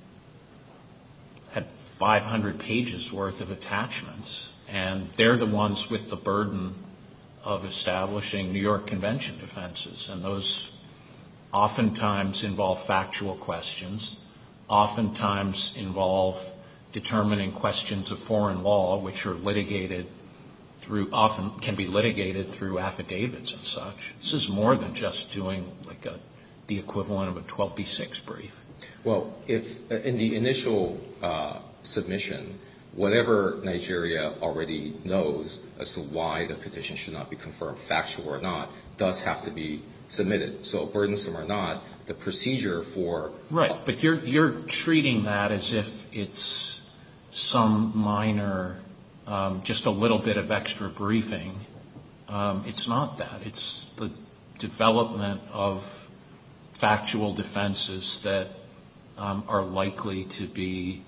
had 500 pages worth of attachments, and they're the ones with the burden of establishing New York Convention defenses. And those oftentimes involve factual questions, oftentimes involve determining questions of foreign law, which are litigated through often can be litigated through affidavits and such. This is more than just doing like the equivalent of a 12B6 brief. Well, in the initial submission, whatever Nigeria already knows as to why the petition should not be confirmed factual or not does have to be submitted. So burdensome or not, the procedure for ---- Right. But you're treating that as if it's some minor, just a little bit of extra briefing. It's not that. It's the development of factual defenses that are likely to be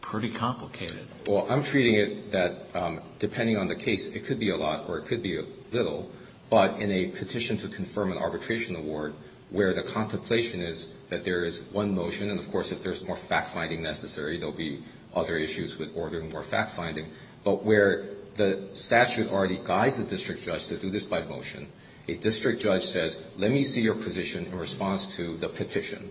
pretty complicated. Well, I'm treating it that depending on the case, it could be a lot or it could be a little. But in a petition to confirm an arbitration award, where the contemplation is that there is one motion, and of course if there's more fact-finding necessary, there will be other issues with ordering more fact-finding. But where the statute already guides the district judge to do this by motion, a district judge says, let me see your position in response to the petition,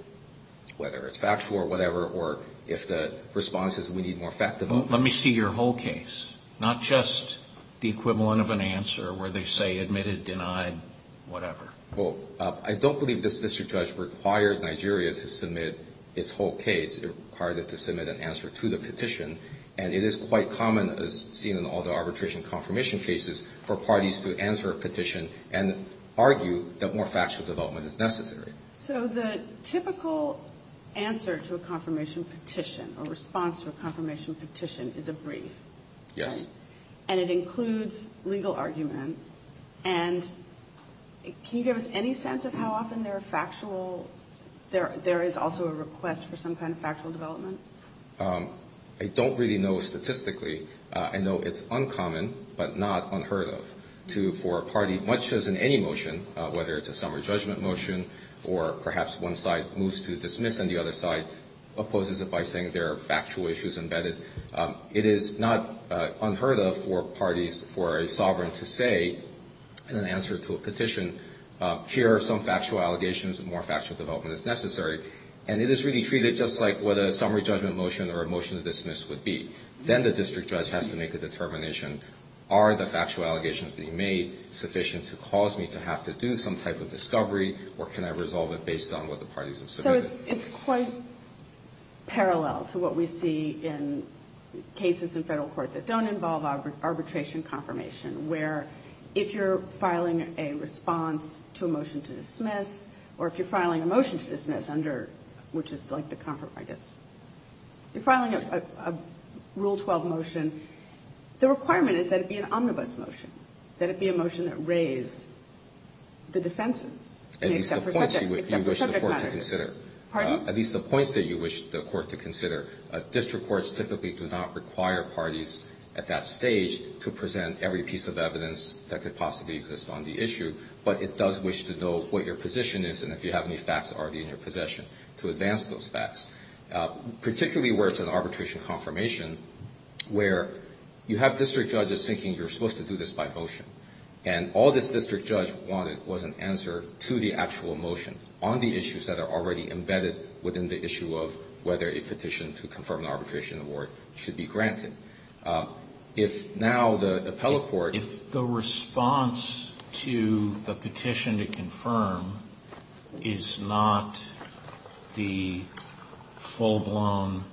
whether it's factual or whatever, or if the response is we need more fact development. Let me see your whole case, not just the equivalent of an answer where they say admitted, denied, whatever. Well, I don't believe this district judge required Nigeria to submit its whole case. It required it to submit an answer to the petition. And it is quite common, as seen in all the arbitration confirmation cases, for parties to answer a petition and argue that more factual development is necessary. So the typical answer to a confirmation petition or response to a confirmation petition is a brief. Yes. And it includes legal argument. And can you give us any sense of how often there are factual, there is also a request for some kind of factual development? I don't really know statistically. I know it's uncommon but not unheard of for a party, much as in any motion, whether it's a summary judgment motion or perhaps one side moves to dismiss and the other side opposes it by saying there are factual issues embedded. It is not unheard of for parties, for a sovereign to say in an answer to a petition, here are some factual allegations and more factual development is necessary. And it is really treated just like what a summary judgment motion or a motion to dismiss would be. Then the district judge has to make a determination. Are the factual allegations being made sufficient to cause me to have to do some type of discovery or can I resolve it based on what the parties have submitted? So it's quite parallel to what we see in cases in Federal court that don't involve arbitration confirmation, where if you're filing a response to a motion to dismiss or if you're filing a motion to dismiss under, which is like the comfort, I guess, you're filing a Rule 12 motion, the requirement is that it be an omnibus motion, that it be a motion that raise the defenses, except for subject matters. Pardon? At least the points that you wish the court to consider. District courts typically do not require parties at that stage to present every piece of evidence that could possibly exist on the issue, but it does wish to know what your position is and if you have any facts already in your possession to advance those facts, particularly where it's an arbitration confirmation, where you have district judges thinking you're supposed to do this by motion, and all this district judge wanted was an answer to the actual motion on the issues that are already embedded within the issue of whether a petition to confirm an arbitration award should be granted. If now the appellate court ---- is not the full-blown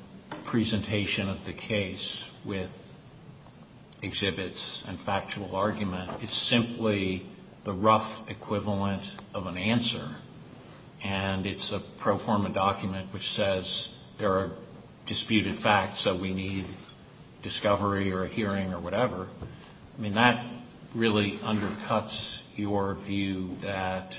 presentation of the case with exhibits and factual argument, it's simply the rough equivalent of an answer, and it's a pro forma document which says there are disputed facts that we need discovery or a hearing or whatever, I mean, that really undercuts your view that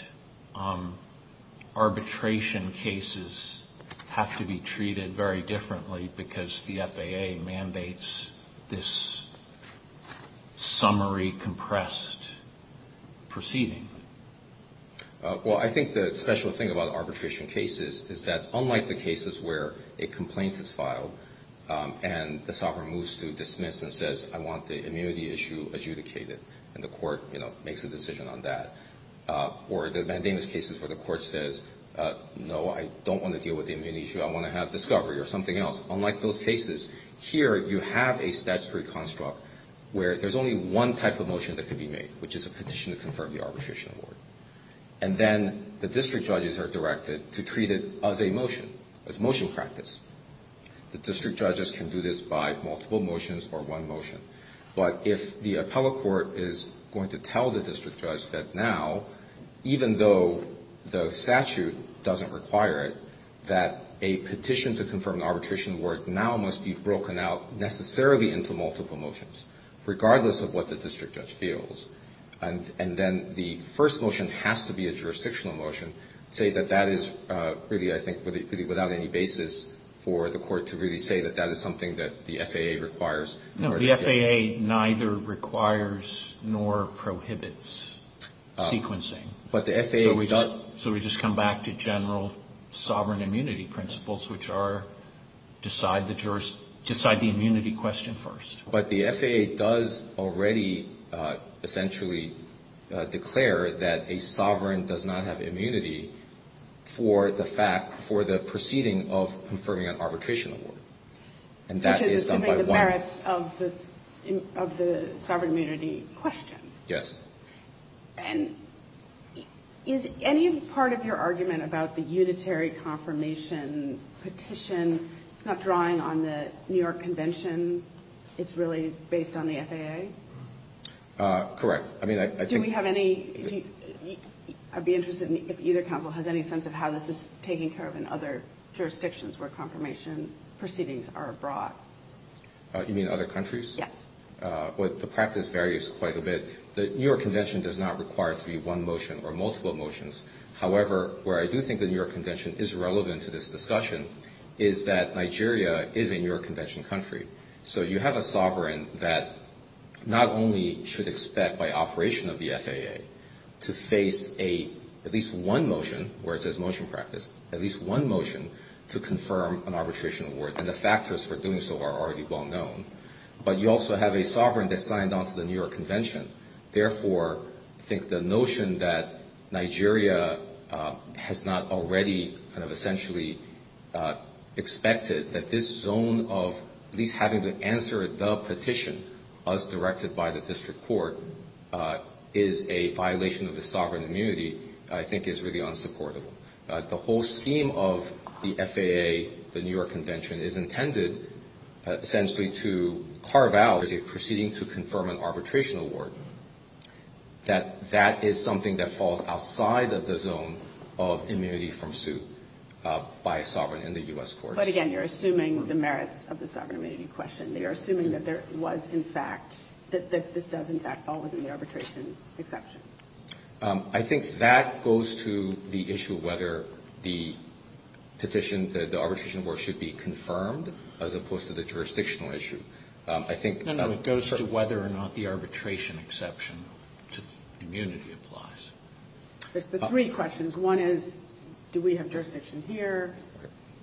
arbitration cases have to be treated very differently because the FAA mandates this summary compressed proceeding. Well, I think the special thing about arbitration cases is that unlike the cases where a complaint is filed and the sovereign moves to dismiss and says I want the immunity issue adjudicated and the court, you know, makes a decision on that, or the mandamus cases where the court says, no, I don't want to deal with the immunity issue, I want to have discovery or something else, unlike those cases, here you have a statutory construct where there's only one type of motion that can be made, which is a petition to confirm the arbitration award, and then the district judges are directed to treat it as a motion, as motion practice. The district judges can do this by multiple motions or one motion, but if the appellate court is going to tell the district judge that now, even though the statute doesn't require it, that a petition to confirm the arbitration award now must be broken out necessarily into multiple motions, regardless of what the district judge feels, and then the first motion has to be a jurisdictional motion, say that that is really, I think, really without any basis for the court to really say that that is something that the FAA requires. Roberts. No. The FAA neither requires nor prohibits sequencing. But the FAA does. So we just come back to general sovereign immunity principles, which are decide the immunity question first. But the FAA does already essentially declare that a sovereign does not have immunity for the fact, for the proceeding of confirming an arbitration award. And that is done by one. Which is assuming the merits of the sovereign immunity question. Yes. And is any part of your argument about the unitary confirmation petition, it's not drawing on the New York Convention, it's really based on the FAA? Correct. I mean, I think. Do we have any, I'd be interested in if either council has any sense of how this is taking care of in other jurisdictions where confirmation proceedings are abroad. You mean other countries? Yes. Well, the practice varies quite a bit. The New York Convention does not require it to be one motion or multiple motions. However, where I do think the New York Convention is relevant to this discussion is that Nigeria is a New York Convention country. So you have a sovereign that not only should expect by operation of the FAA to face at least one motion, where it says motion practice, at least one motion to confirm an arbitration award. And the factors for doing so are already well known. But you also have a sovereign that signed on to the New York Convention. Therefore, I think the notion that Nigeria has not already kind of essentially expected that this zone of at least having to answer the petition, as directed by the district court, is a violation of the sovereign immunity, I think is really unsupportable. The whole scheme of the FAA, the New York Convention, is intended essentially to carve out as a proceeding to confirm an arbitration award, that that is something that falls outside of the zone of immunity from suit. By a sovereign in the U.S. courts. But again, you're assuming the merits of the sovereign immunity question. You're assuming that there was in fact, that this does in fact fall within the arbitration exception. I think that goes to the issue of whether the petition, the arbitration award should be confirmed as opposed to the jurisdictional issue. I think... No, no, it goes to whether or not the arbitration exception to immunity applies. The three questions. One is, do we have jurisdiction here?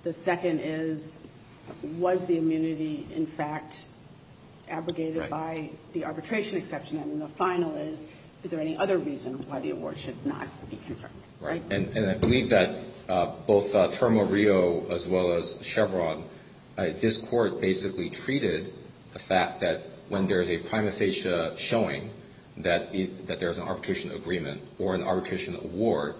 The second is, was the immunity in fact abrogated by the arbitration exception? And the final is, is there any other reason why the award should not be confirmed? Right? And I believe that both Termo Rio as well as Chevron, this Court basically treated the fact that when there is a prima facie showing that there's an arbitration agreement or an arbitration award,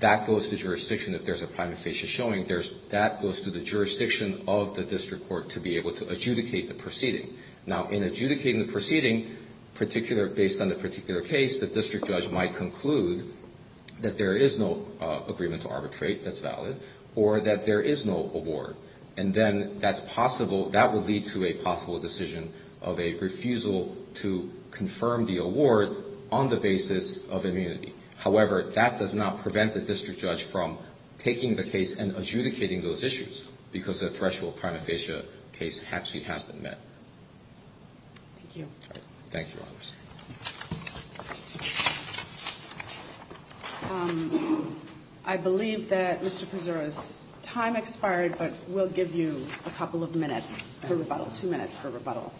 that goes to jurisdiction if there's a prima facie showing. That goes to the jurisdiction of the district court to be able to adjudicate the proceeding. Now, in adjudicating the proceeding, based on the particular case, the district judge might conclude that there is no agreement to arbitrate, that's valid, or that there is no award. And then that's possible, that would lead to a possible decision of a refusal to confirm the award on the basis of immunity. However, that does not prevent the district judge from taking the case and adjudicating those issues, because the threshold prima facie case actually has been met. Thank you. Thank you, Your Honors. I believe that, Mr. Pezzura, time expired, but we'll give you a couple of minutes for rebuttal, two minutes for rebuttal.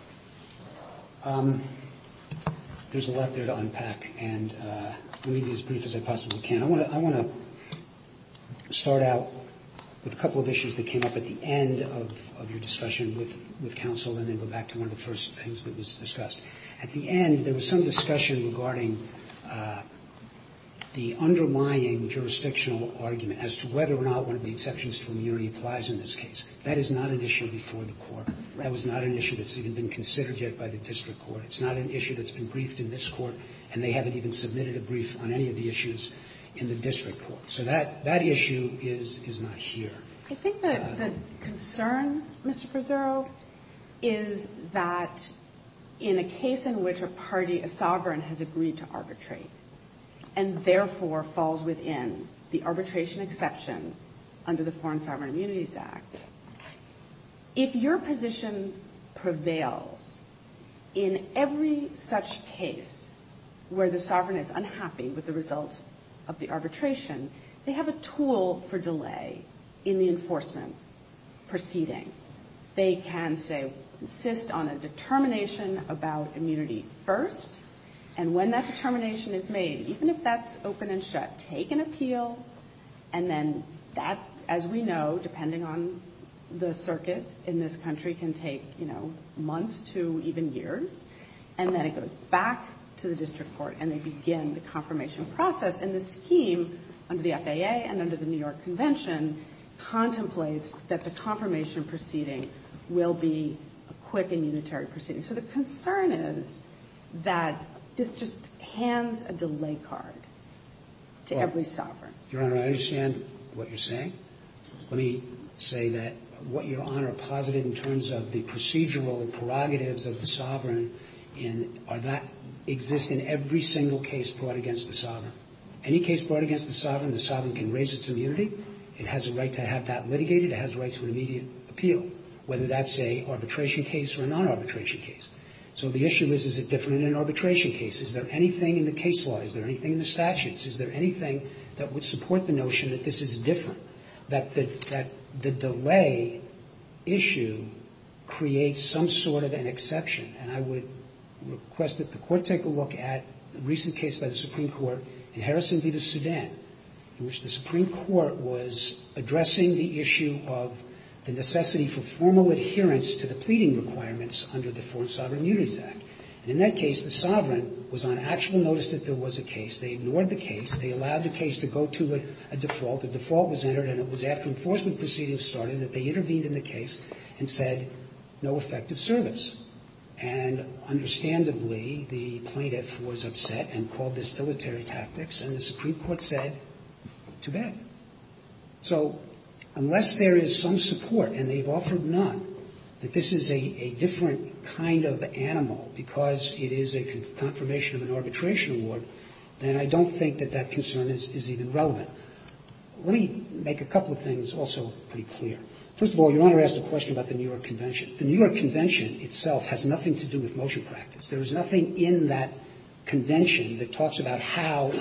There's a lot there to unpack, and I'll leave it as brief as I possibly can. I want to start out with a couple of issues that came up at the end of your discussion with counsel, and then go back to one of the first things that was discussed. At the end, there was some discussion regarding the underlying jurisdictional argument as to whether or not one of the exceptions to immunity applies in this case. That is not an issue before the Court. That was not an issue that's even been considered yet by the district court. It's not an issue that's been briefed in this Court, and they haven't even submitted a brief on any of the issues in the district court. So that issue is not here. I think the concern, Mr. Pezzura, is that in a case in which a party, a sovereign, has agreed to arbitrate, and therefore falls within the arbitration exception under the Foreign Sovereign Immunities Act, if your position prevails in every such case where the sovereign is unhappy with the results of the arbitration, they have a tool for delay in the enforcement proceeding. They can, say, insist on a determination about immunity first, and when that determination is made, even if that's open and shut, take an appeal, and then that, as we know, depending on the circuit in this country, can take, you know, months to even years, and then it goes back to the district court, and they begin the confirmation process, and the scheme under the FAA and under the New York Convention contemplates that the confirmation proceeding will be a quick and unitary proceeding. So the concern is that this just hands a delay card to every sovereign. Your Honor, I understand what you're saying. Let me say that what Your Honor posited in terms of the procedural and prerogatives of the sovereign are that exist in every single case brought against the sovereign. Any case brought against the sovereign, the sovereign can raise its immunity. It has a right to have that litigated. It has a right to an immediate appeal, whether that's an arbitration case or a non-arbitration case. So the issue is, is it different in an arbitration case? Is there anything in the case law? Is there anything in the statutes? Is there anything that would support the notion that this is different, that the delay issue creates some sort of an exception? And I would request that the Court take a look at the recent case by the Supreme Court in Harrison v. The Sudan, in which the Supreme Court was addressing the issue of the necessity for formal adherence to the pleading requirements under the Foreign Sovereign Immunities Act. And in that case, the sovereign was on actual notice that there was a case. They ignored the case. They allowed the case to go to a default. The default was entered, and it was after enforcement proceedings started that they intervened in the case and said, no effective service. And understandably, the plaintiff was upset and called this dilatory tactics, and the Supreme Court said, too bad. So unless there is some support, and they've offered none, that this is a different kind of animal because it is a confirmation of an arbitration award, then I don't think that that concern is even relevant. Now, let me make a couple of things also pretty clear. First of all, Your Honor asked a question about the New York Convention. The New York Convention itself has nothing to do with motion practice. There is nothing in that convention that talks about how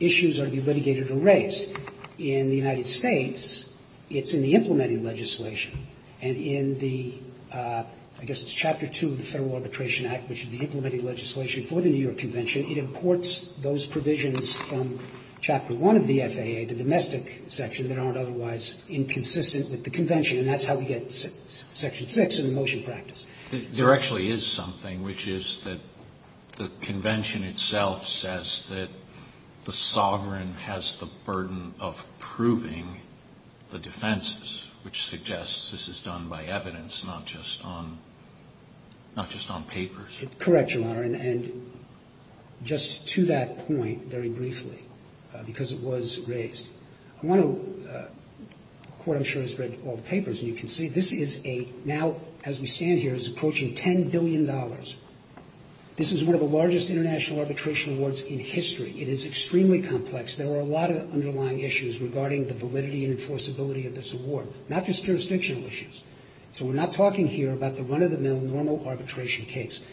issues are to be litigated or raised. In the United States, it's in the implementing legislation. And in the, I guess it's Chapter 2 of the Federal Arbitration Act, which is the implementing legislation for the New York Convention, it imports those provisions from Chapter 1 of the FAA, the domestic section, that aren't otherwise inconsistent with the convention. And that's how we get Section 6 in the motion practice. There actually is something, which is that the convention itself says that the sovereign has the burden of proving the defenses, which suggests this is done by evidence, Correct, Your Honor. And just to that point, very briefly, because it was raised, I want to, the Court, I'm sure, has read all the papers, and you can see this is a, now as we stand here, is approaching $10 billion. This is one of the largest international arbitration awards in history. It is extremely complex. There are a lot of underlying issues regarding the validity and enforceability of this award, not just jurisdictional issues. So we're not talking here about the run-of-the-mill normal arbitration case.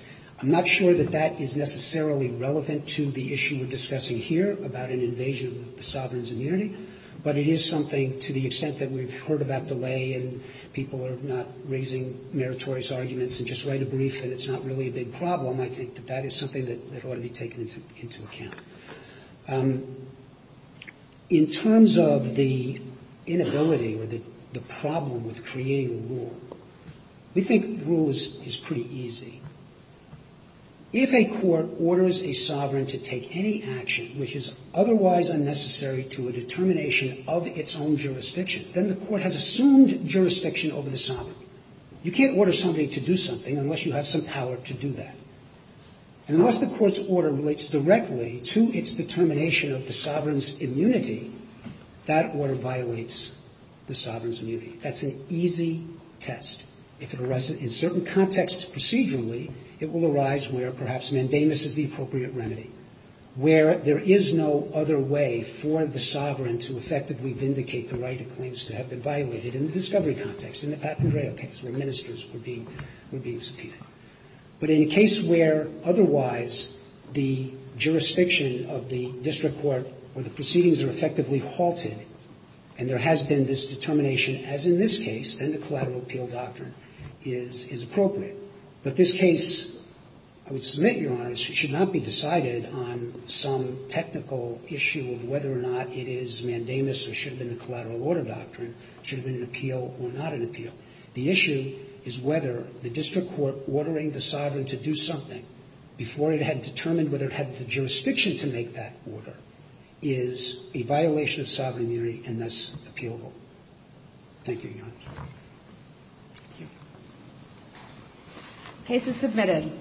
I'm not sure that that is necessarily relevant to the issue we're discussing here about an invasion of the sovereign's immunity. But it is something, to the extent that we've heard about delay and people are not raising meritorious arguments and just write a brief and it's not really a big problem, I think that that is something that ought to be taken into account. In terms of the inability or the problem with creating a rule, we think the rule is pretty easy. If a court orders a sovereign to take any action which is otherwise unnecessary to a determination of its own jurisdiction, then the court has assumed jurisdiction over the sovereign. You can't order somebody to do something unless you have some power to do that. And unless the court's order relates directly to its determination of the sovereign's immunity, that order violates the sovereign's immunity. That's an easy test. If it arises in certain contexts procedurally, it will arise where perhaps mandamus is the appropriate remedy, where there is no other way for the sovereign to effectively vindicate the right of claims to have been violated in the discovery context, in the Pat Pandreau case where ministers were being subpoenaed. But in a case where otherwise the jurisdiction of the district court or the proceedings are effectively halted and there has been this determination as in this case, then the collateral appeal doctrine is appropriate. But this case, I would submit, Your Honors, should not be decided on some technical issue of whether or not it is mandamus or should have been the collateral order doctrine, should have been an appeal or not an appeal. The issue is whether the district court ordering the sovereign to do something before it had determined whether it had the jurisdiction to make that order is a violation of sovereign immunity and thus appealable. Thank you, Your Honors. Thank you. Case is submitted.